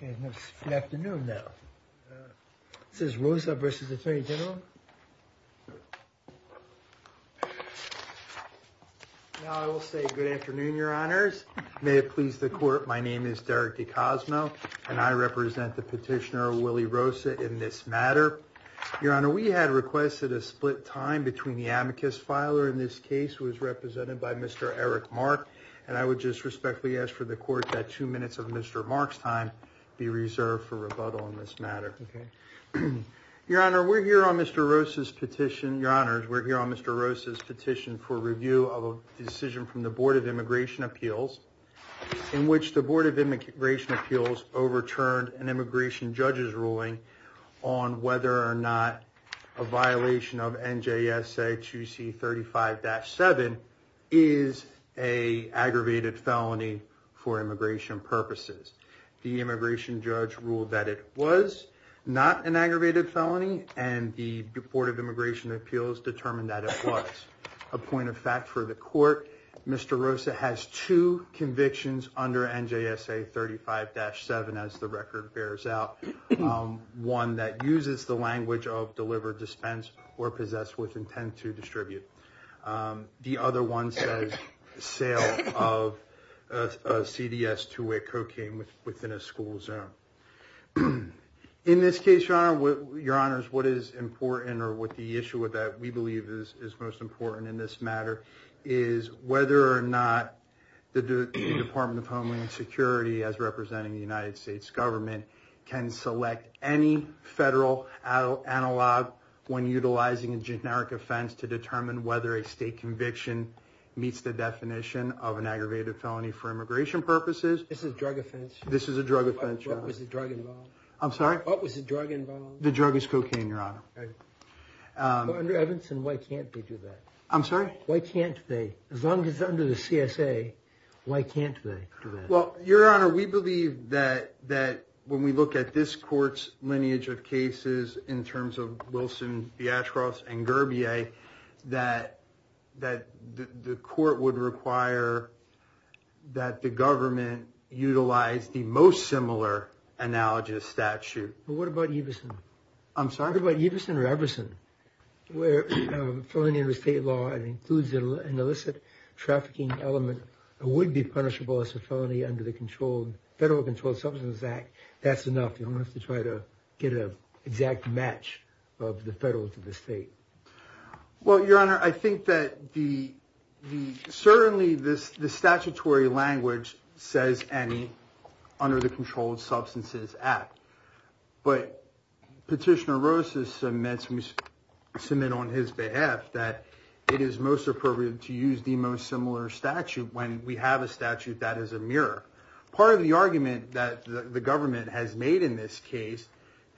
Good afternoon now. This is Rosa v. Attorney General. Now I will say good afternoon, your honors. May it please the court, my name is Derek DeCosmo and I represent the petitioner Willie Rosa in this matter. Your honor, we had requested a split time between the amicus filer in this case who is represented by Mr. Eric Mark and I would just respectfully ask for the next time be reserved for rebuttal in this matter. Your honor, we're here on Mr. Rosa's petition, your honors, we're here on Mr. Rosa's petition for review of a decision from the Board of Immigration Appeals in which the Board of Immigration Appeals overturned an immigration judge's ruling on whether or not a violation of the immigration judge ruled that it was not an aggravated felony and the Board of Immigration Appeals determined that it was. A point of fact for the court, Mr. Rosa has two convictions under NJSA 35-7 as the record bears out. One that uses the language of deliver, dispense, or possess with intent to distribute. The other one says sale of a CDS to a cocaine within a school zone. In this case, your honors, what is important or what the issue with that we believe is most important in this matter is whether or not the Department of Homeland Security, as representing the United States government, can select any federal analog when utilizing a generic offense to determine whether a state conviction meets the definition of an aggravated felony for immigration purposes. This is a drug offense? This is a drug offense, your honors. What was the drug involved? I'm sorry? What was the drug involved? The drug is cocaine, your honor. Under Evanston, why can't they do that? I'm sorry? Why can't they? As long as under the CSA, why can't they do that? Well, your honor, we believe that when we look at this court's lineage of cases in terms of Wilson, Theatros, and Gurbier, that the court would require that the government utilize the most similar analogous statute. But what about Everson? I'm sorry? What about Everson or Everson? Where a felony under state law includes an illicit trafficking element that would be punishable as a felony under the Federal Controlled Substances Act, that's enough. You don't have to try to get an exact match of the federal to the state. Well, your honor, I think that certainly the statutory language says any under the Controlled Substances Act, but Petitioner Rosas submits on his behalf that it is most appropriate to use the most similar statute when we have a statute that is a mirror. Part of the argument that the government has made in this case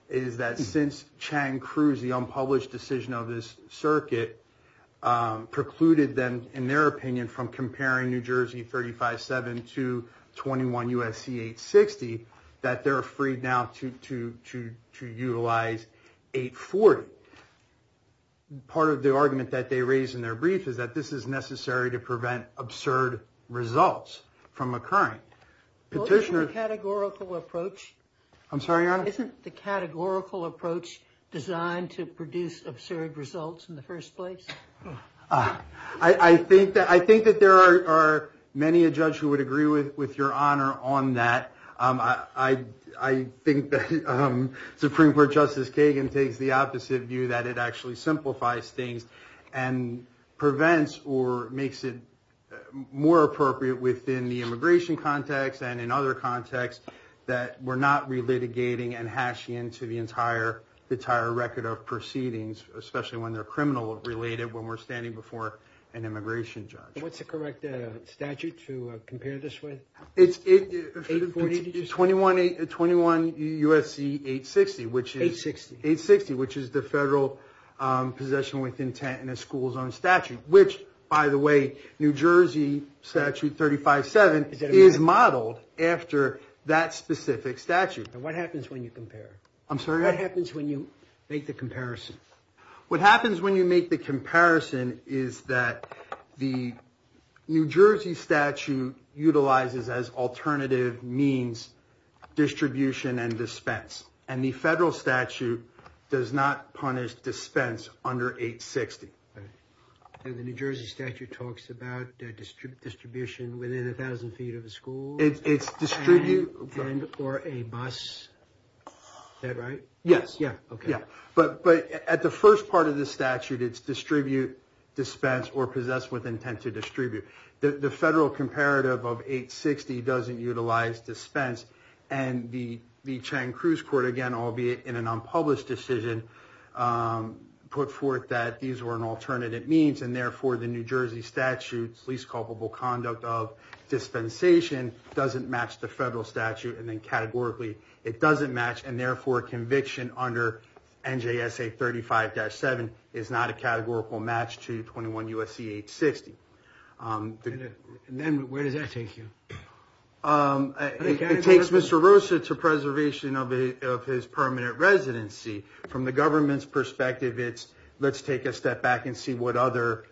is that since Chang-Cruz, the unpublished decision of this circuit, precluded them, in their opinion, from comparing New Jersey 35-7 to 21 U.S.C. 860, that they're free now to utilize 840. Part of the argument that they raise in their brief is that this is necessary to Isn't the categorical approach designed to produce absurd results in the first place? I think that there are many a judge who would agree with your honor on that. I think that Supreme Court Justice Kagan takes the opposite view, that it actually simplifies things and prevents or makes it more appropriate within the immigration context and in other contexts that we're not relitigating and hashing into the entire record of proceedings, especially when they're criminal-related, when we're standing before an immigration judge. What's the correct statute to compare this with? It's 21 U.S.C. 860, which is the federal possession with intent in a school's own statute, which, by the way, New Jersey Statute 35-7 is modeled after that specific statute. And what happens when you compare? I'm sorry? What happens when you make the comparison? What happens when you make the comparison is that the New Jersey statute utilizes as alternative means distribution and dispense, and the federal statute does not punish dispense under 860. And the New Jersey statute talks about distribution within 1,000 feet of a school? It's distribute... And or a bus? Is that right? Yes. Yeah. Okay. Yeah. But at the first part of the statute, it's distribute, dispense, or possess with intent to distribute. The federal comparative of 860 doesn't utilize dispense, and the Chang-Cruz Court, again, albeit in an unpublished decision, put forth that these were an alternative means, and therefore, the New Jersey statute's least culpable conduct of dispensation doesn't match the federal statute, and then categorically, it doesn't match, and therefore, conviction under NJSA 35-7 is not a categorical match to 21 U.S.C. 860. Then where does that take you? It takes Mr. Rosa to preservation of his permanent residency. From the government's perspective, it's let's take a step back and see what other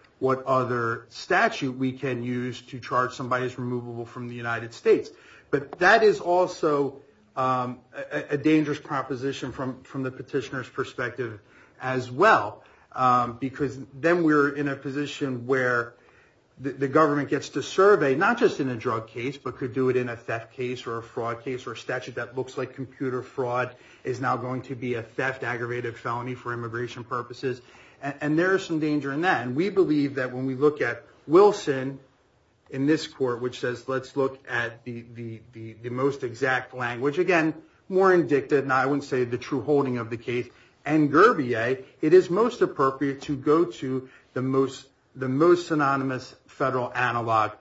statute we can use to charge somebody as removable from the United States. But that is also a dangerous proposition from the petitioner's perspective as well, because then we're in a position where the government gets to survey, not just in a drug case, but could do it in a theft case, or a fraud case, or a statute that looks like computer fraud is now going to be a theft aggravated felony for immigration purposes, and there is some danger in that. We believe that when we look at Wilson in this court, which says let's look at the most exact language, again, more indicted, and I wouldn't say the true holding of the case, and Gurbier, it is most appropriate to go to the most synonymous federal analog,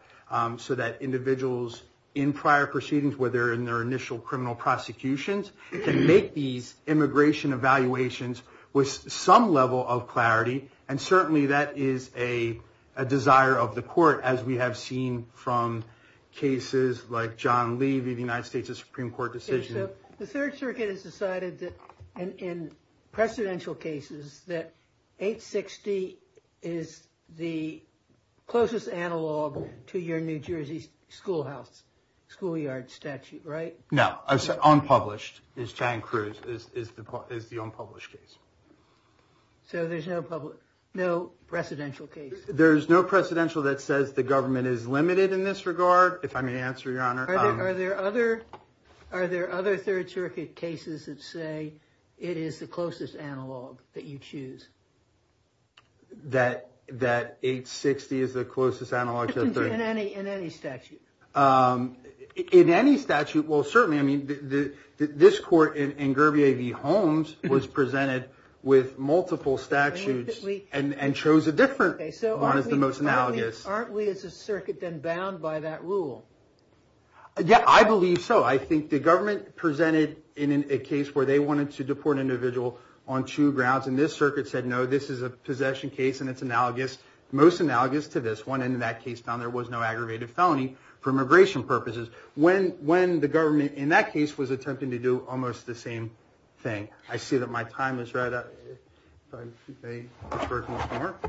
so that individuals in prior proceedings, whether in their initial criminal prosecutions, can make these immigration evaluations with some level of clarity, and certainly that is a desire of the court, as we have seen from cases like John Lee v. the United States Supreme Court decision. So the Third Circuit has decided that, in precedential cases, that 860 is the closest analog to your New Jersey schoolhouse, schoolyard statute, right? No. Unpublished, is John Cruz, is the unpublished case. So there's no presidential case? There's no precedential that says the government is limited in this regard, if I may answer, Your Honor. Are there other Third Circuit cases that say it is the closest analog that you choose? That 860 is the closest analog to the third? In any statute. In any statute, well, certainly, I mean, this court in Gurbier v. Holmes was presented with multiple statutes and chose a different one as the most analogous. Aren't we, as a circuit, then bound by that rule? Yeah, I believe so. I think the government presented a case where they wanted to deport an individual on two grounds, and this circuit said, no, this is a possession case, and it's analogous, most analogous to this one, and in that case, found there was no aggravated felony for immigration purposes, when the government, in that case, was attempting to do almost the same thing. I see that my time is right up. If I may defer to Mr. Mark.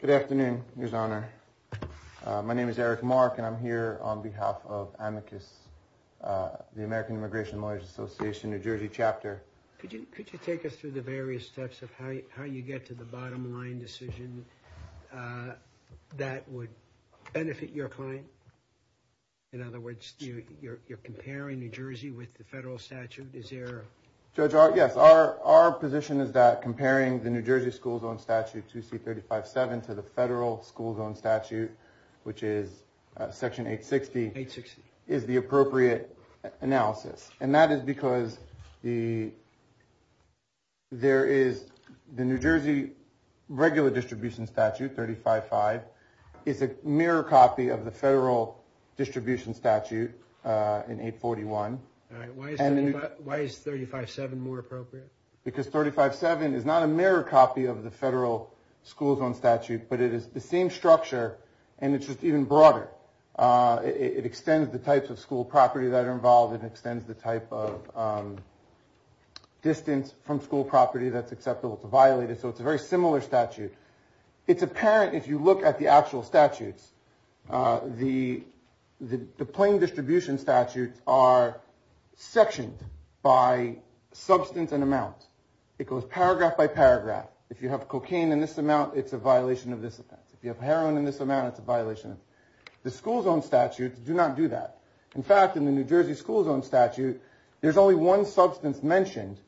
Good afternoon, Your Honor. My name is Eric Mark, and I'm here on behalf of AMICUS, the American Immigration Lawyers Association, New Jersey chapter. Could you take us through the various steps of how you get to the bottom line decision that would benefit your client? In other words, you're comparing New Jersey with the federal statute, is there? Judge, yes, our position is that comparing the New Jersey school zone statute to C-35-7 to the federal school zone statute, which is Section 860, is the appropriate analysis. And that is because there is the New Jersey regular distribution statute, 35-5, is a mirror copy of the federal distribution statute in 841. Why is 35-7 more appropriate? Because 35-7 is not a mirror copy of the federal school zone statute, but it is the same structure, and it's just even broader. It extends the types of school property that are involved. It extends the type of distance from school property that's acceptable to violate it. So it's a very similar statute. It's apparent, if you look at the actual statutes, the plain distribution statutes are sectioned by substance and amount. It goes paragraph by paragraph. If you have cocaine in this amount, it's a violation of this offense. If you have heroin in this amount, it's a violation. The school zone statutes do not do that. In fact, in the New Jersey school zone statute, there's only one substance mentioned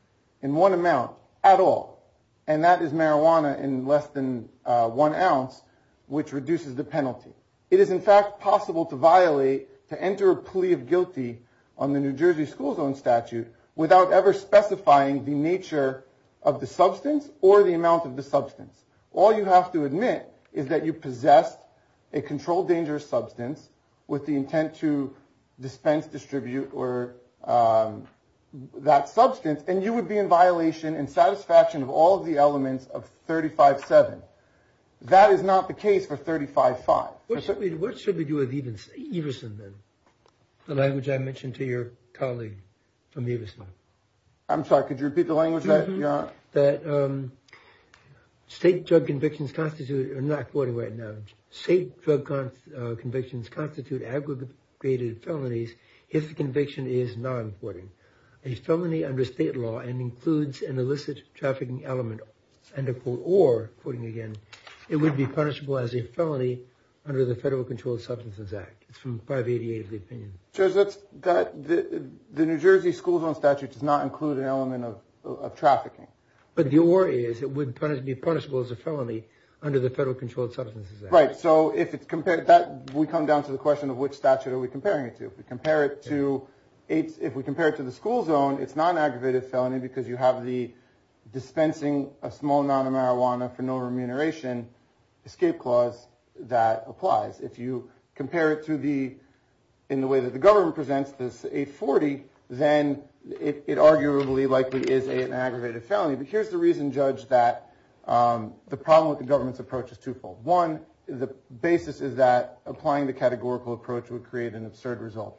in one amount at all, and that is marijuana in less than one ounce, which reduces the penalty. It is, in fact, possible to violate, to enter a plea of guilty on the New Jersey school zone statute without ever specifying the nature of the substance or the amount of the substance. All you have to admit is that you possess a controlled dangerous substance with the intent to dispense, distribute, or that substance, and you would be in violation and satisfaction of all of the elements of 35-7. That is not the case for 35-5. What should we do with Everson then, the language I mentioned to your colleague from State drug convictions constitute, I'm not quoting right now, state drug convictions constitute aggregated felonies if the conviction is non-courting, a felony under state law and includes an illicit trafficking element, or, quoting again, it would be punishable as a felony under the Federal Controlled Substances Act. It's from 588 of the opinion. Judge, the New Jersey school zone statute does not include an element of trafficking. But the worry is it would be punishable as a felony under the Federal Controlled Substances Act. Right. So if it's compared to that, we come down to the question of which statute are we comparing it to? If we compare it to, if we compare it to the school zone, it's not an aggravated felony because you have the dispensing a small amount of marijuana for no remuneration escape clause that applies. If you compare it to the, in the way that the government presents this 840, then it is a felony. But here's the reason, Judge, that the problem with the government's approach is twofold. One, the basis is that applying the categorical approach would create an absurd result.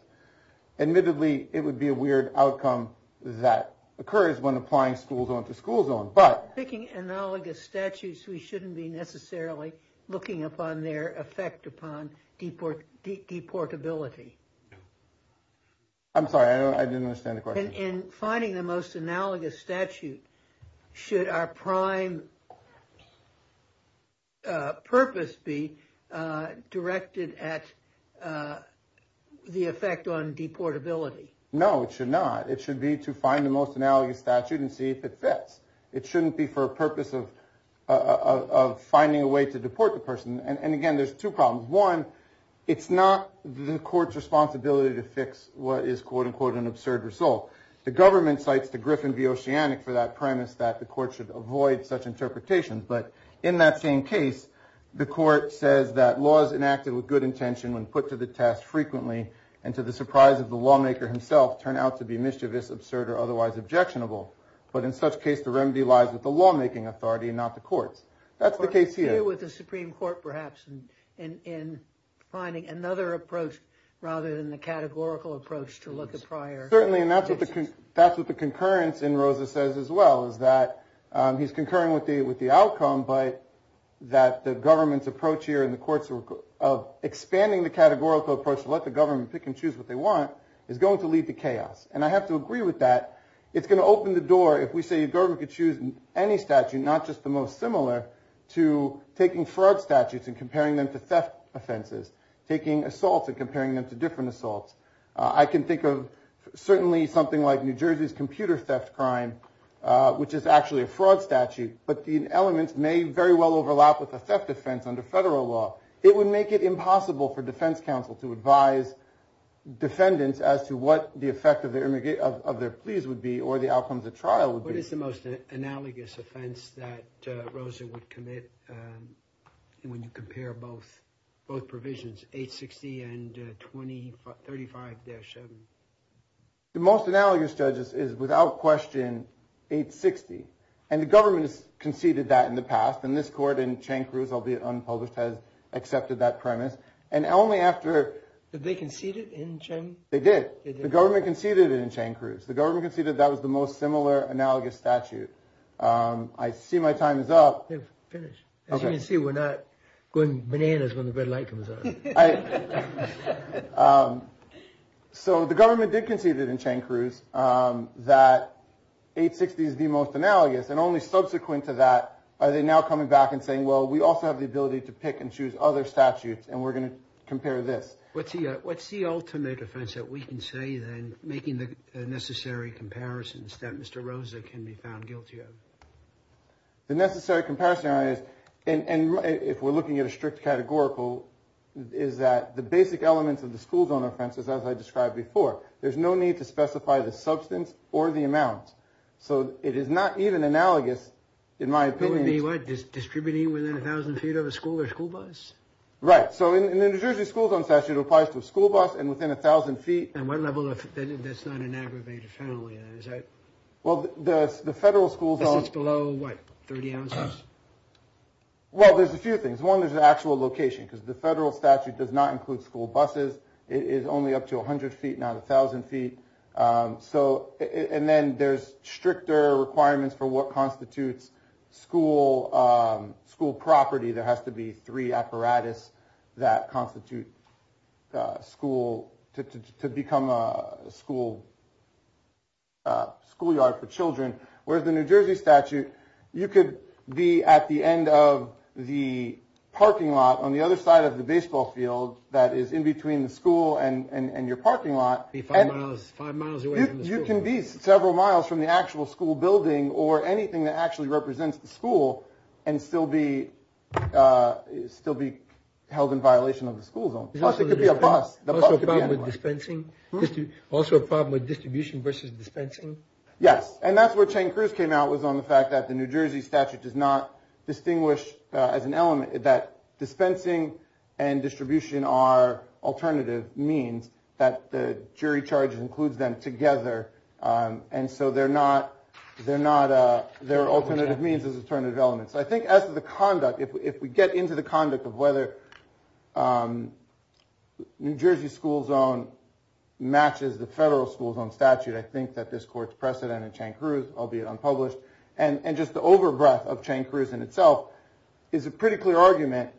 Admittedly, it would be a weird outcome that occurs when applying school zone to school zone, but. Picking analogous statutes, we shouldn't be necessarily looking upon their effect upon deport, deportability. I'm sorry, I don't, I didn't understand the question. In finding the most analogous statute, should our prime purpose be directed at the effect on deportability? No, it should not. It should be to find the most analogous statute and see if it fits. It shouldn't be for a purpose of finding a way to deport the person. And again, there's two problems. One, it's not the court's responsibility to fix what is, quote unquote, an absurd result. The government cites the Griffin v. Oceanic for that premise that the court should avoid such interpretations. But in that same case, the court says that laws enacted with good intention when put to the test frequently and to the surprise of the lawmaker himself turn out to be mischievous, absurd, or otherwise objectionable. But in such case, the remedy lies with the lawmaking authority and not the courts. That's the case here. What do you do with the Supreme Court, perhaps, in finding another approach rather than the categorical approach to look at prior? Certainly, and that's what the concurrence in Rosa says as well, is that he's concurring with the outcome, but that the government's approach here in the courts of expanding the categorical approach to let the government pick and choose what they want is going to lead to chaos. And I have to agree with that. It's going to open the door if we say the government could choose any statute, not just the most similar, to taking fraud statutes and comparing them to theft offenses, taking assaults and comparing them to different assaults. I can think of certainly something like New Jersey's computer theft crime, which is actually a fraud statute, but the elements may very well overlap with a theft offense under federal law. It would make it impossible for defense counsel to advise defendants as to what the effect of their pleas would be or the outcomes of trial would be. What is the most analogous offense that Rosa would commit when you compare both provisions, 860 and 2035-7? The most analogous, judges, is without question 860. And the government has conceded that in the past. And this court in Chancruz, albeit unpublished, has accepted that premise. And only after... Did they concede it in Chancruz? They did. The government conceded it in Chancruz. The government conceded that was the most similar, analogous statute. I see my time is up. They've finished. As you can see, we're not going bananas when the red light comes on. So the government did concede it in Chancruz that 860 is the most analogous. And only subsequent to that are they now coming back and saying, well, we also have the ability to pick and choose other statutes and we're going to compare this. What's the ultimate offense that we can say, then, making the necessary comparisons that Mr. Rosa can be found guilty of? The necessary comparison is, and if we're looking at a strict categorical, is that the basic elements of the school zone offenses, as I described before, there's no need to specify the substance or the amount. So it is not even analogous, in my opinion. In the what? Distributing within a thousand feet of a school or school bus? Right. So in the New Jersey school zone statute, it applies to a school bus and within a thousand feet. And what level? That's not an aggravated felony, is it? Well, the federal schools are below, what, 30 ounces? Well, there's a few things. One, there's an actual location because the federal statute does not include school buses. It is only up to 100 feet, not a thousand feet. So and then there's stricter requirements for what constitutes school school property. There has to be three apparatus that constitute school to become a school. A schoolyard for children, where the New Jersey statute, you could be at the end of the parking lot on the other side of the baseball field that is in between the school and your parking lot. If I was five miles away, you can be several miles from the actual school building or anything that actually represents the school and still be still be held in violation of the school zone. Plus, it could be a bus. Also a problem with dispensing? Also a problem with distribution versus dispensing? Yes. And that's where Chang-Cruz came out, was on the fact that the New Jersey statute does not distinguish as an element that dispensing and distribution are alternative means that the jury charges includes them together. And so they're not, they're not, they're alternative means as alternative elements. I think as the conduct, if we get into the conduct of whether New Jersey school zone matches the federal school zone statute, I think that this court's precedent in Chang-Cruz, albeit unpublished, and just the over breadth of Chang-Cruz in itself is a pretty clear argument.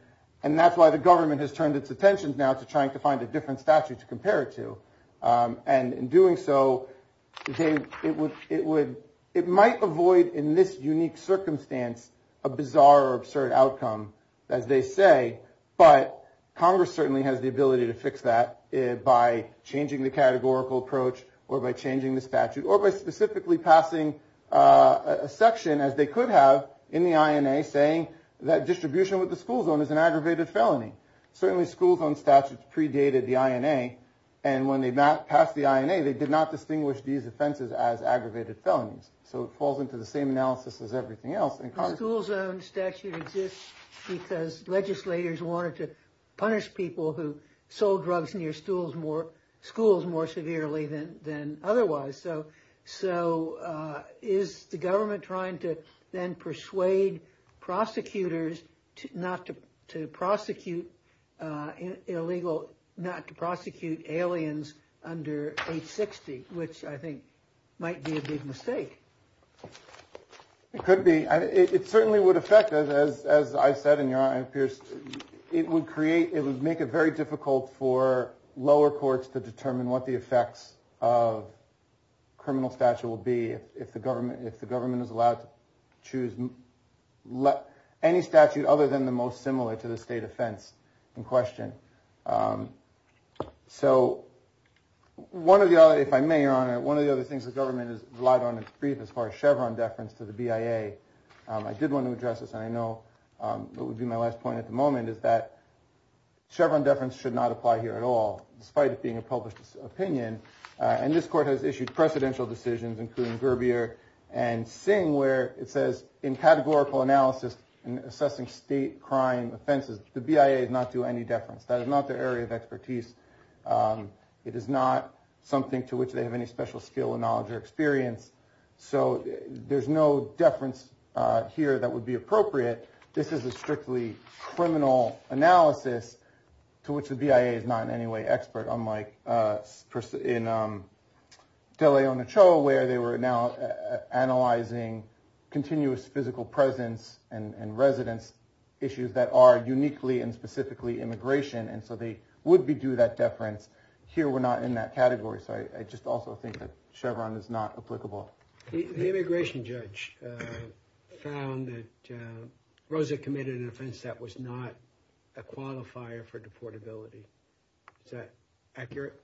And that's why the government has turned its attention now to trying to find a different statute to compare it to. And in doing so, it might avoid in this unique circumstance a bizarre or absurd outcome, as they say. But Congress certainly has the ability to fix that by changing the categorical approach or by changing the statute or by specifically passing a section, as they could have, in the INA saying that distribution with the school zone is an aggravated felony. Certainly school zone statutes predated the INA. And when they passed the INA, they did not distinguish these offenses as aggravated felonies. So it falls into the same analysis as everything else in Congress. The school zone statute exists because legislators wanted to punish people who sold drugs near schools more severely than otherwise. So is the government trying to then persuade prosecutors not to prosecute illegal, not to prosecute aliens under 860, which I think might be a big mistake? It could be. It certainly would affect us, as I said, in your honor, it would create it would make it very difficult for lower courts to determine what the effects of criminal statute will be if the government if the government is allowed to choose any statute other than the most similar to the state offense in question. So one of the other, if I may, your honor, one of the other things the government has relied on its brief as far as Chevron deference to the BIA. I did want to address this, and I know it would be my last point at the moment, is that Chevron deference should not apply here at all, despite it being a published opinion. And this court has issued precedential decisions, including Gerbier and Singh, where it says in categorical analysis and assessing state crime offenses, the BIA does not do any deference. That is not their area of expertise. It is not something to which they have any special skill or knowledge or experience. So there's no deference here that would be appropriate. This is a strictly criminal analysis to which the BIA is not in any way expert, unlike in De Leon Cho, where they were now analyzing continuous physical presence and residence issues that are uniquely and specifically immigration. And so they would be due that deference. Here we're not in that category. So I just also think that Chevron is not applicable. The immigration judge found that Rosa committed an offense that was not a qualifier for deportability. Is that accurate?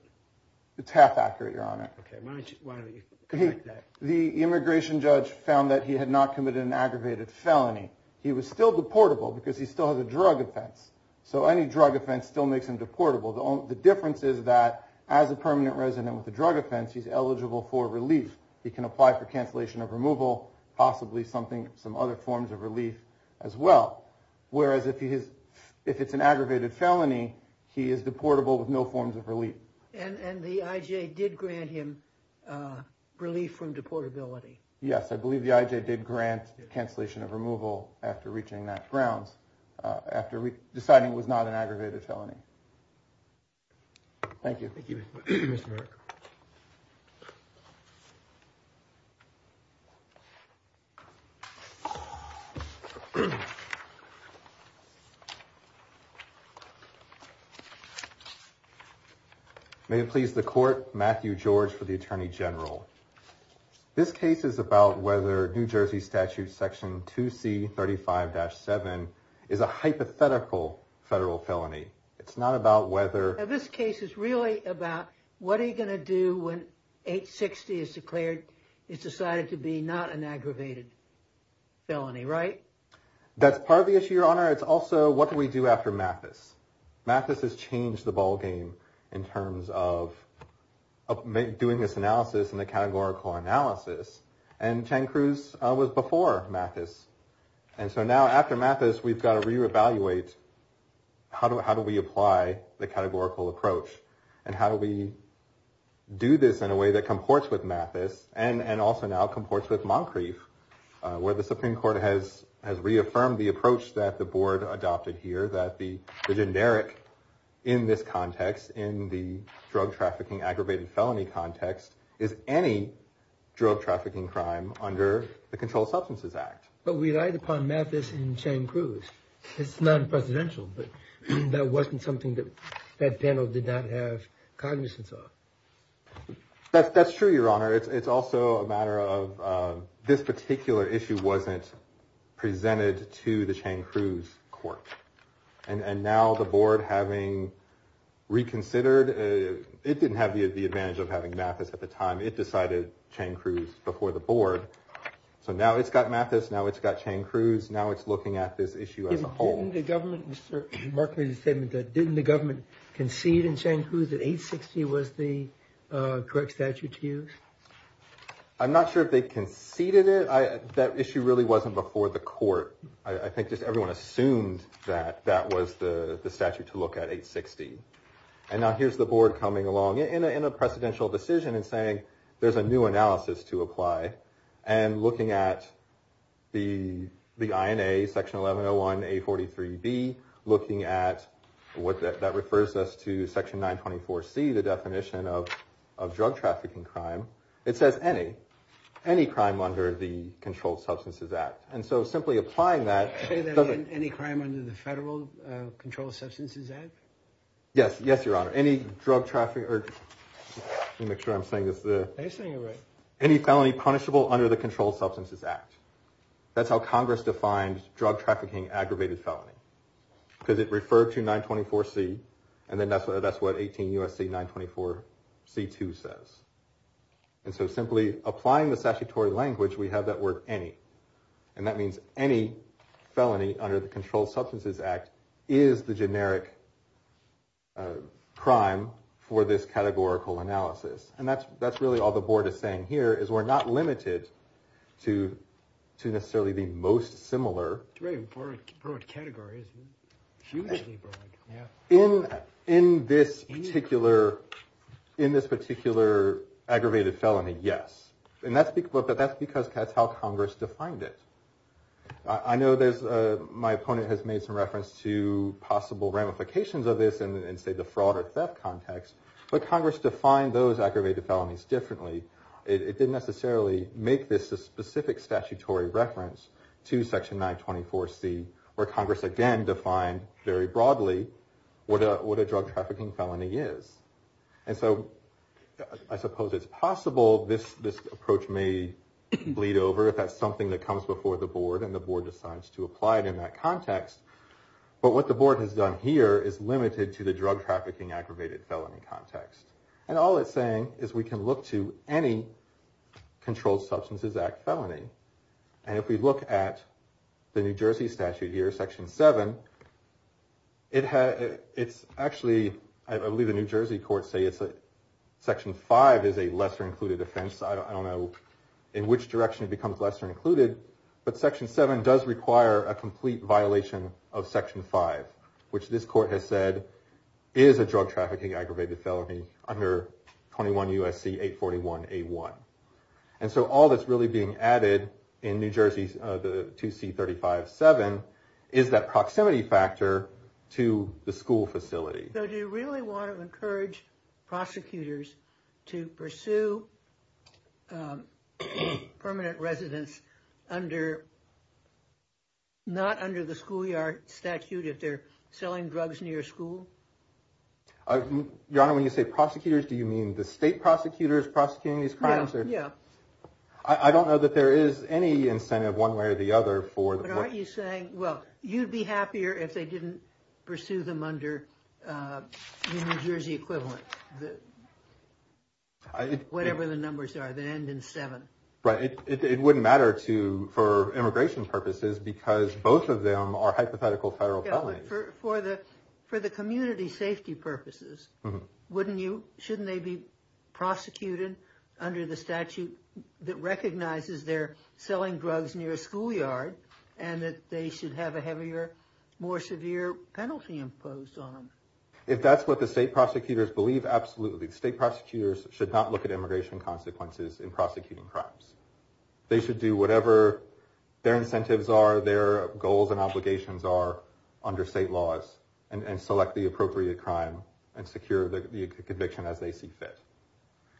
It's half accurate, your honor. OK, why don't you correct that? The immigration judge found that he had not committed an aggravated felony. He was still deportable because he still has a drug offense. So any drug offense still makes him deportable. The difference is that as a permanent resident with a drug offense, he's eligible for relief. He can apply for cancellation of removal, possibly some other forms of relief as well. Whereas if it's an aggravated felony, he is deportable with no forms of relief. And the IJ did grant him relief from deportability. Yes, I believe the IJ did grant cancellation of removal after reaching that grounds after deciding it was not an aggravated felony. Thank you. Thank you. May it please the court, Matthew George for the attorney general. This case is about whether New Jersey statute section 2C35-7 is a hypothetical federal felony. It's not about whether. This case is really about what are you going to do when 860 is declared it's decided to be not an aggravated felony, right? That's part of the issue, your honor. It's also what do we do after Mathis? Mathis has changed the ballgame in terms of doing this analysis and the case is not categorical analysis. And Chen Cruz was before Mathis. And so now after Mathis, we've got to re-evaluate how do we apply the categorical approach and how do we do this in a way that comports with Mathis and also now comports with Moncrief, where the Supreme Court has reaffirmed the approach that the board adopted here, that the generic in this context, in the drug trafficking aggravated felony context, is any drug trafficking crime under the Controlled Substances Act. But we relied upon Mathis and Chen Cruz. It's non-presidential, but that wasn't something that that panel did not have cognizance of. That's true, your honor. It's also a matter of this particular issue wasn't presented to the Chen Cruz court. And now the board, having reconsidered, it didn't have the advantage of having Mathis at the time, it decided Chen Cruz before the board. So now it's got Mathis, now it's got Chen Cruz. Now it's looking at this issue as a whole. Didn't the government concede in Chen Cruz that 860 was the correct statute to use? I'm not sure if they conceded it. That issue really wasn't before the court. I think just everyone assumed that that was the statute to look at 860. And now here's the board coming along in a precedential decision and saying there's a new analysis to apply. And looking at the INA section 1101A43B, looking at what that refers us to section 924C, the definition of drug trafficking crime. It says any, any crime under the Controlled Substances Act. And so simply applying that. Any crime under the Federal Controlled Substances Act? Yes, yes, your honor. Any drug trafficking or let me make sure I'm saying this. Are you saying it right? Any felony punishable under the Controlled Substances Act. That's how Congress defined drug trafficking, aggravated felony, because it referred to 924C and then that's what that's what 18 U.S.C. 924C2 says. And so simply applying the statutory language, we have that word any. And that means any felony under the Controlled Substances Act is the generic crime for this categorical analysis. And that's that's really all the board is saying here is we're not limited to to necessarily the most similar. It's a very broad category. It's hugely broad, yeah. In in this particular, in this particular aggravated felony, yes. And that's because that's because that's how Congress defined it. I know there's my opponent has made some reference to possible ramifications of this and say the fraud or theft context. But Congress defined those aggravated felonies differently. It didn't necessarily make this a specific statutory reference to Section 924C, where Congress again defined very broadly what a drug trafficking felony is. And so I suppose it's possible this this approach may bleed over if that's something that comes before the board and the board decides to apply it in that context. But what the board has done here is limited to the drug trafficking aggravated felony context. And all it's saying is we can look to any Controlled Substances Act felony. And if we look at the New Jersey statute here, Section 7. It's actually I believe the New Jersey courts say it's a Section 5 is a lesser included offense. I don't know in which direction it becomes lesser included, but Section 7 does require a complete violation of Section 5, which this court has said is a drug trafficking aggravated felony under 21 U.S.C. 841 A1. And so all that's really being added in New Jersey, the 2C35-7, is that proximity factor to the school facility. So do you really want to encourage prosecutors to pursue permanent residence under not under the schoolyard statute if they're selling drugs near school? Your Honor, when you say prosecutors, do you mean the state prosecutors prosecuting these felonies? Yeah, I don't know that there is any incentive one way or the other for the board. But aren't you saying, well, you'd be happier if they didn't pursue them under the New Jersey equivalent, whatever the numbers are, the end in seven. Right. It wouldn't matter to for immigration purposes because both of them are hypothetical federal felonies. For the community safety purposes, wouldn't you, shouldn't they be prosecuted under the statute that recognizes they're selling drugs near a schoolyard and that they should have a heavier, more severe penalty imposed on them? If that's what the state prosecutors believe, absolutely. State prosecutors should not look at immigration consequences in prosecuting crimes. They should do whatever their incentives are, their goals and obligations are under state laws and select the appropriate crime and secure the conviction as they see fit.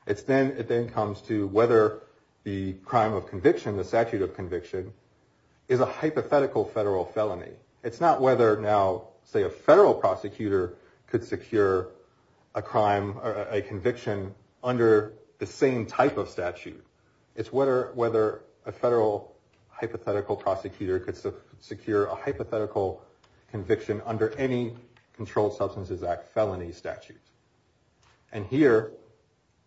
It's then it then comes to whether the crime of conviction, the statute of conviction is a hypothetical federal felony. It's not whether now, say, a federal prosecutor could secure a crime or a conviction under the same type of statute. It's whether whether a federal hypothetical prosecutor could secure a hypothetical conviction under any Controlled Substances Act felony statute. And here,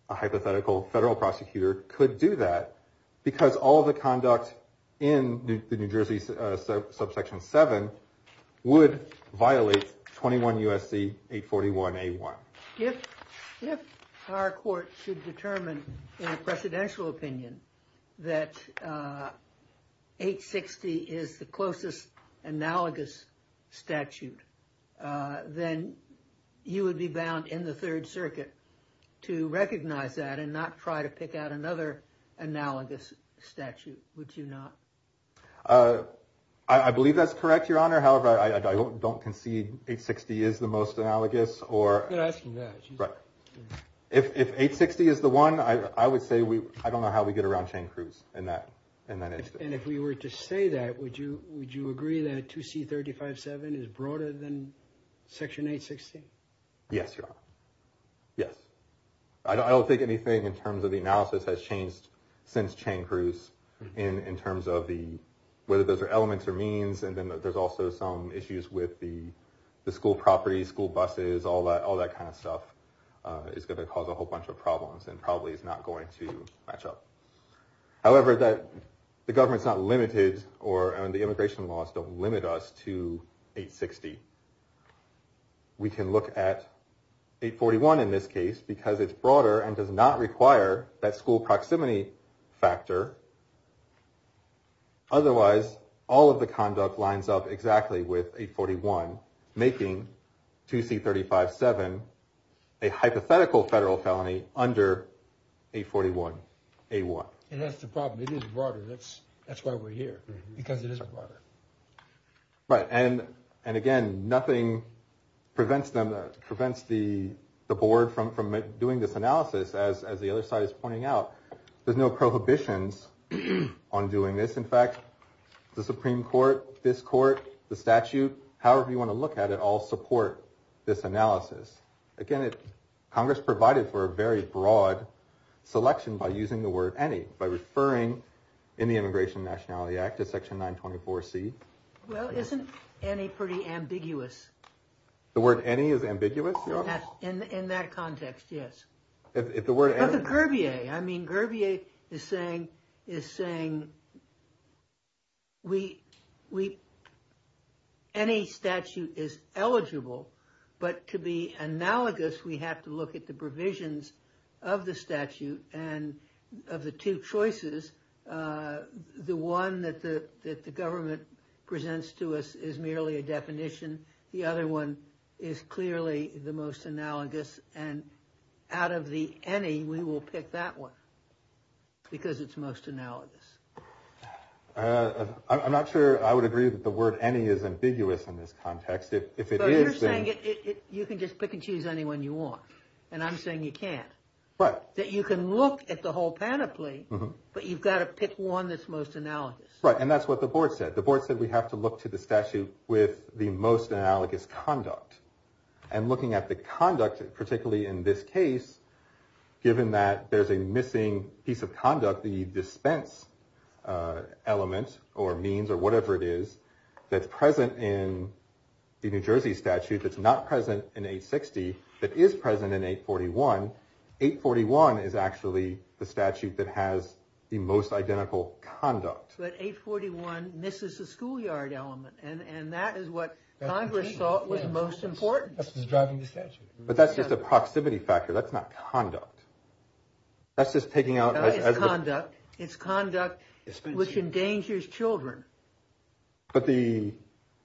a hypothetical federal prosecutor could do that because all of the conduct in the New Jersey subsection seven would violate 21 USC 841 A1. If if our court should determine in a presidential opinion that 860 is the closest analogous statute, then you would be bound in the Third Circuit to recognize that and not try to pick out another analogous statute, would you not? I believe that's correct, Your Honor. However, I don't concede 860 is the most analogous. Or if 860 is the one I would say we I don't know how we get around Chang Cruz in that in that instance. And if we were to say that, would you would you agree that 2C 35-7 is broader than Section 860? Yes, Your Honor. Yes. I don't think anything in terms of the analysis has changed since Chang Cruz in terms of the whether those are elements or means. And then there's also some issues with the school property, school buses, all that all that kind of stuff is going to cause a whole bunch of problems and probably is not going to match up. However, that the government's not limited or the immigration laws don't limit us to 860. We can look at 841 in this case because it's broader and does not require that school conduct lines up exactly with 841, making 2C 35-7 a hypothetical federal felony under 841 A-1. And that's the problem. It is broader. That's that's why we're here, because it is broader. Right. And and again, nothing prevents them, prevents the the board from from doing this analysis, as the other side is pointing out, there's no prohibitions on doing this. In fact, the Supreme Court, this court, the statute, however you want to look at it, all support this analysis. Again, Congress provided for a very broad selection by using the word any by referring in the Immigration Nationality Act to Section 924 C. Well, isn't any pretty ambiguous? The word any is ambiguous in that context. Yes, if the word of the Kirby, I mean, Kirby is saying is saying. We we. Any statute is eligible, but to be analogous, we have to look at the provisions of the statute and of the two choices, the one that the that the government presents to us is merely a definition. The other one is clearly the most analogous and out of the any we will pick that one. Because it's most analogous, I'm not sure I would agree that the word any is ambiguous in this context, if it is saying you can just pick and choose anyone you want. And I'm saying you can't, but that you can look at the whole panoply, but you've got to pick one that's most analogous. Right. And that's what the board said. The board said we have to look to the statute with the most analogous conduct and looking at the conduct, particularly in this case, given that there's a missing piece of conduct, the dispense element or means or whatever it is that's present in the New Jersey statute that's not present in 860, that is present in 841. 841 is actually the statute that has the most identical conduct. But 841 misses the schoolyard element. And that is what Congress thought was most important. This is driving the statute. But that's just a proximity factor. That's not conduct. That's just taking out conduct, it's conduct which endangers children. But the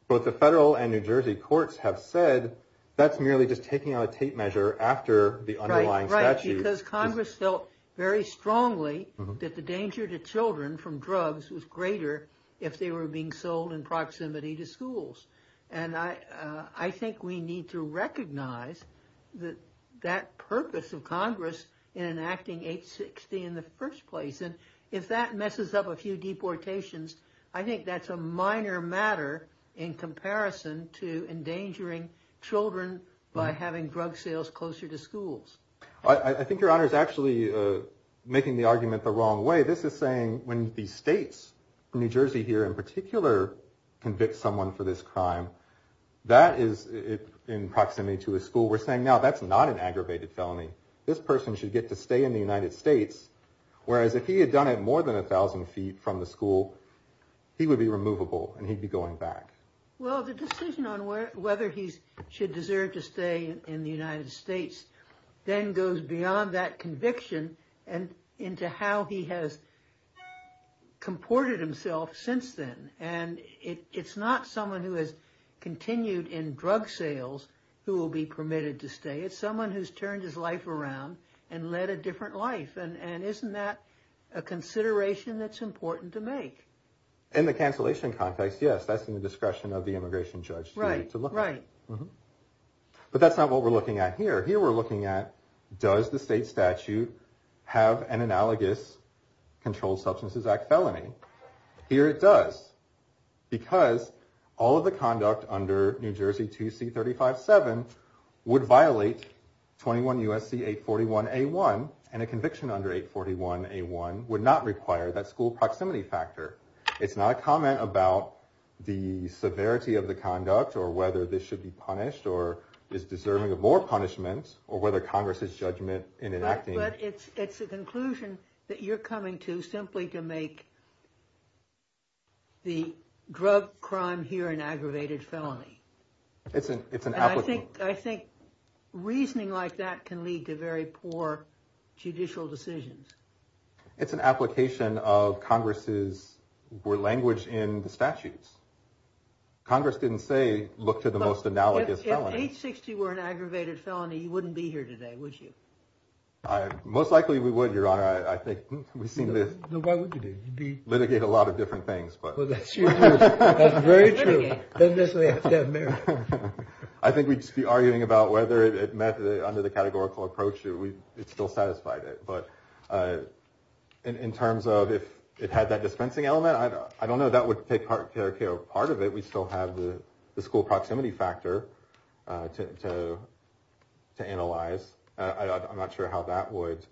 both the federal and New Jersey courts have said that's merely just taking out a tape measure after the underlying statute. Because Congress felt very strongly that the danger to children from drugs was greater if they were being sold in proximity to schools. And I think we need to recognize that that purpose of Congress in enacting 860 in the first place. And if that messes up a few deportations, I think that's a minor matter in comparison to endangering children by having drug sales closer to schools. I think your honor is actually making the argument the wrong way. This is saying when the states, New Jersey here in particular, convict someone for this crime, that is in proximity to a school. We're saying now that's not an aggravated felony. This person should get to stay in the United States. Whereas if he had done it more than a thousand feet from the school, he would be removable and he'd be going back. Well, the decision on whether he should deserve to stay in the United States then goes beyond that conviction and into how he has comported himself since then. And it's not someone who has continued in drug sales who will be permitted to stay. It's someone who's turned his life around and led a different life. And isn't that a consideration that's important to make? In the cancellation context, yes, that's in the discretion of the immigration judge. Right. Right. But that's not what we're looking at here. Here we're looking at, does the state statute have an analogous Controlled Substances Act felony? Here it does, because all of the conduct under New Jersey 2C-35-7 would violate 21 U.S.C. 841-A-1 and a conviction under 841-A-1 would not require that school to be removed. So that's a proximity factor. It's not a comment about the severity of the conduct or whether this should be punished or is deserving of more punishment or whether Congress's judgment in enacting... But it's a conclusion that you're coming to simply to make the drug crime here an aggravated felony. It's an application. I think reasoning like that can lead to very poor judicial decisions. It's an application of Congress's language in the statutes. Congress didn't say look to the most analogous felonies. If 860 were an aggravated felony, you wouldn't be here today, would you? Most likely we would, Your Honor. I think we seem to litigate a lot of different things. That's very true. I think we'd just be arguing about whether it met under the categorical approach or it still satisfied it. But in terms of if it had that dispensing element, I don't know. That would take part of it. We still have the school proximity factor to analyze. I'm not sure how that would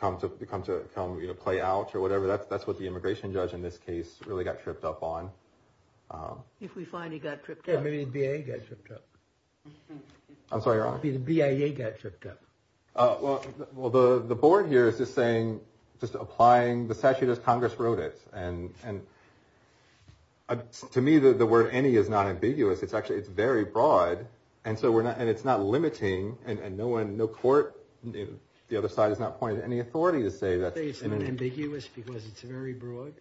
come to play out or whatever. That's what the immigration judge in this case really got tripped up on. If we find he got tripped up. I'm sorry, Your Honor? The BIA got tripped up. Well, the board here is just saying, just applying the statute as Congress wrote it. To me, the word any is not ambiguous. It's actually very broad. And it's not limiting. No court, the other side, has not pointed to any authority to say that. I say it's not ambiguous because it's very broad.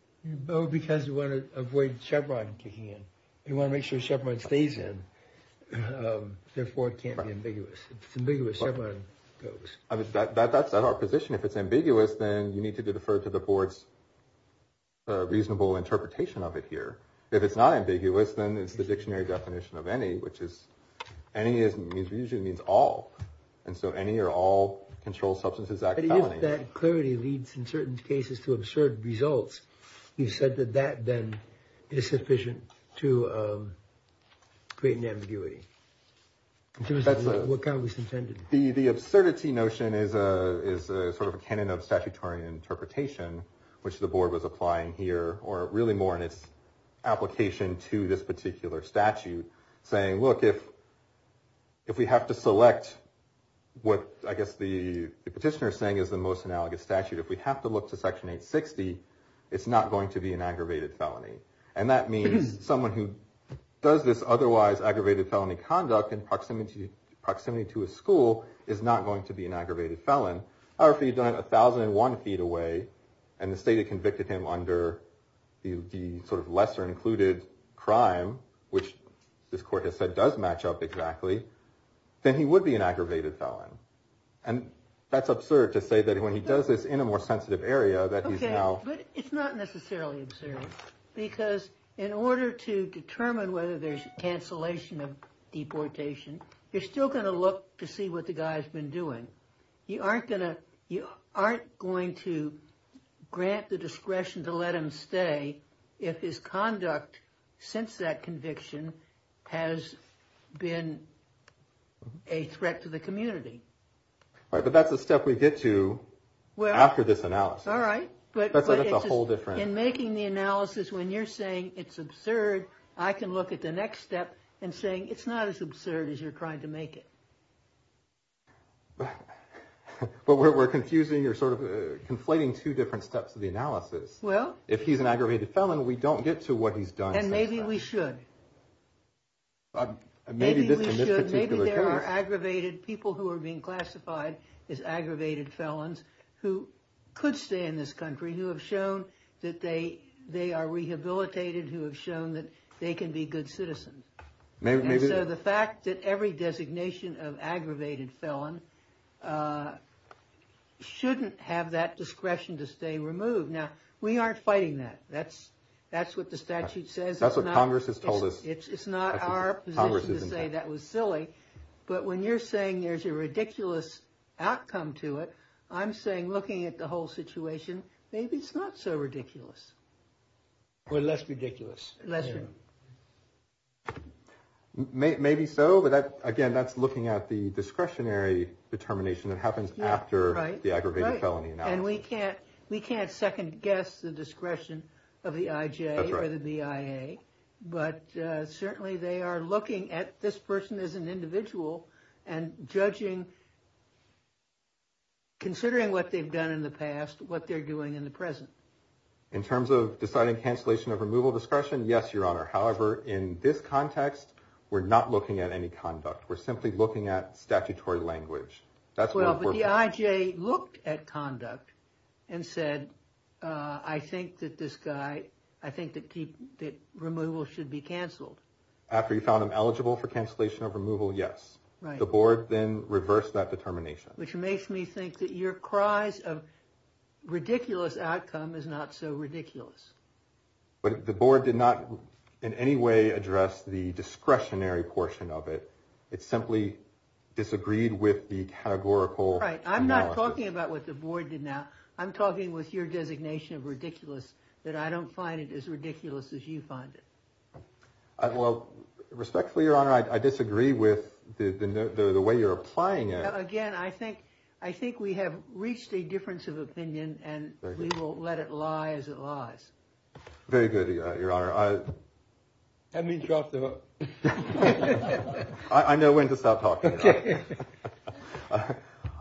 Because we want to avoid Chevron kicking in. Therefore, it can't be ambiguous. It's ambiguous if Chevron goes. I mean, that's not our position. If it's ambiguous, then you need to defer to the board's reasonable interpretation of it here. If it's not ambiguous, then it's the dictionary definition of any, which is any usually means all. And so any or all controlled substances act felonies. But if that clarity leads, in certain cases, to absurd results, you said that that then is sufficient to create an ambiguity. So what kind of was intended? The absurdity notion is a sort of a canon of statutory interpretation, which the board was applying here, or really more in its application to this particular statute, saying, look, if we have to select what I guess the petitioner is saying is the most analogous statute, if we have to look to Section 860, it's not going to be an aggravated felony. And that means someone who does this otherwise aggravated felony conduct in proximity to a school is not going to be an aggravated felon. However, if he'd done it 1,001 feet away, and the state had convicted him under the sort of lesser included crime, which this court has said does match up exactly, then he would be an aggravated felon. And that's absurd to say that when he does this in a more sensitive area that he's now. But it's not necessarily absurd, because in order to determine whether there's cancellation of deportation, you're still going to look to see what the guy has been doing. You aren't going to grant the discretion to let him stay if his conduct, since that conviction, has been a threat to the community. But that's a step we get to after this analysis. All right. That's a whole different. In making the analysis, when you're saying it's absurd, I can look at the next step and saying it's not as absurd as you're trying to make it. But we're confusing or sort of conflating two different steps of the analysis. Well. If he's an aggravated felon, we don't get to what he's done. And maybe we should. Maybe there are aggravated people who are being classified as aggravated felons who could stay in this country, who have shown that they are rehabilitated, who have shown that they can be good citizens. And so the fact that every designation of aggravated felon shouldn't have that discretion to stay removed. Now, we aren't fighting that. That's what the statute says. That's what Congress has told us. It's not our position to say that was silly. But when you're saying there's a ridiculous outcome to it, I'm saying looking at the whole situation, maybe it's not so ridiculous. Or less ridiculous. Maybe so. But again, that's looking at the discretionary determination that happens after the aggravated felony. And we can't second guess the discretion of the IJ or the BIA. But certainly they are looking at this person as an individual and judging, considering what they've done in the past, what they're doing in the present. In terms of deciding cancellation of removal discretion? Yes, Your Honor. However, in this context, we're not looking at any conduct. We're simply looking at statutory language. That's what we're looking at. Well, but the IJ looked at conduct and said, I think that this guy, I think that removal should be canceled. After you found him eligible for cancellation of removal, yes. The board then reversed that determination. Which makes me think that your cries of ridiculous outcome is not so ridiculous. But the board did not in any way address the discretionary portion of it. It simply disagreed with the categorical analysis. Right. I'm not talking about what the board did now. I'm talking with your designation of ridiculous, that I don't find it as ridiculous as you find it. Well, respectfully, Your Honor, I disagree with the way you're applying it. Again, I think we have reached a difference of opinion and we will let it lie as it lies. Very good, Your Honor. Have me drop the hook. I know when to stop talking. Okay.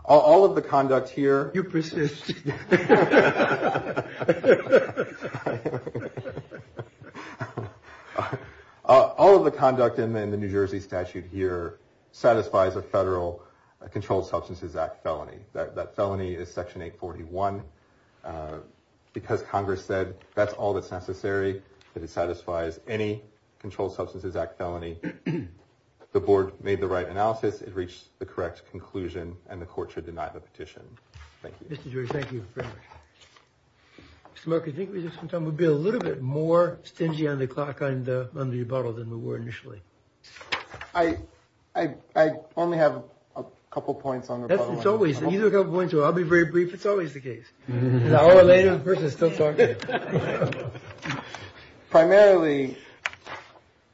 All of the conduct here. You persist. All of the conduct in the New Jersey statute here satisfies a federal Controlled Substances Act felony. That felony is Section 841. Because Congress said that's all that's necessary. That it satisfies any Controlled Substances Act felony. The board made the right analysis. It reached the correct conclusion and the court should deny the petition. Thank you. Mr. Drury, thank you very much. Mr. Mark, I think we've just been talking. We've been a little bit more stingy on the clock on the rebuttal than we were initially. I only have a couple points on the rebuttal. It's always, either a couple points or I'll be very brief. It's always the case. An hour later, the person is still talking. Primarily,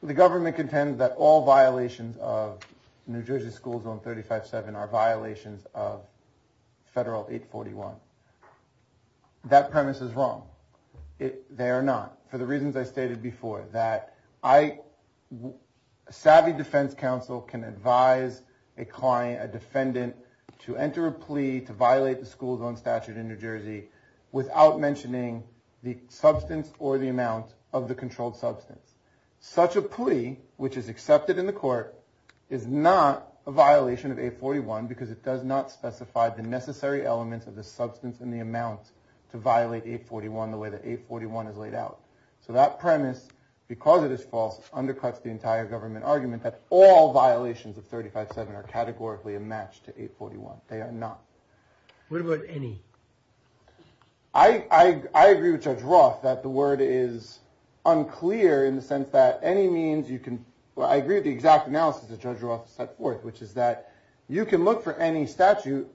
the government contends that all violations of New Jersey School Zone 35-7 are violations of Federal 841. That premise is wrong. They are not. For the reasons I stated before, that a savvy defense counsel can advise a client, a defendant, to enter a plea to violate the school zone statute in New Jersey without mentioning the substance or the amount of the controlled substance. Such a plea, which is accepted in the court, is not a violation of 841 because it does not specify the necessary elements of the substance and the amount to violate 841 the way that 841 is laid out. So that premise, because it is false, undercuts the entire government argument that all violations of 35-7 are categorically a match to 841. They are not. What about any? I agree with Judge Roth that the word is unclear in the sense that any means you can, well, I agree with the exact analysis that Judge Roth set forth, which is that you can look for any statute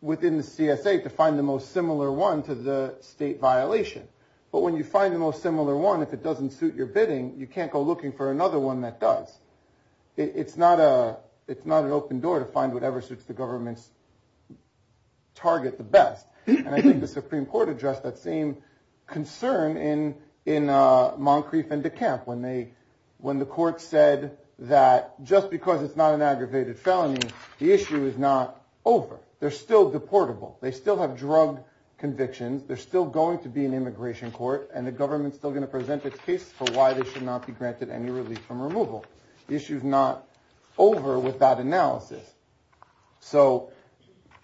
within the CSA to find the most similar one to the state violation. But when you find the most similar one, if it doesn't suit your bidding, you can't go looking for another one that does. It's not an open door to find whatever suits the government's target the best. And I think the Supreme Court addressed that same concern in Moncrief and DeKalb, when the court said that just because it's not an aggravated felony, the issue is not over. They're still deportable. They still have drug convictions. There's still going to be an immigration court, and the government's still going to present its case for why they should not be granted any relief from removal. The issue's not over with that analysis. So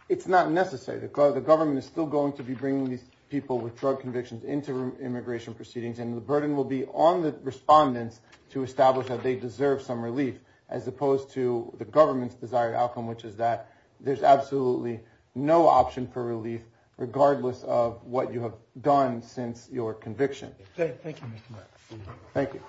it's not necessary. The government is still going to be bringing these people with drug convictions into immigration proceedings, and the burden will be on the respondents to establish that they deserve some relief, as opposed to the government's desired outcome, which is that there's absolutely no option for relief, regardless of what you have done since your conviction. Thank you, Mr. Max. Thank you.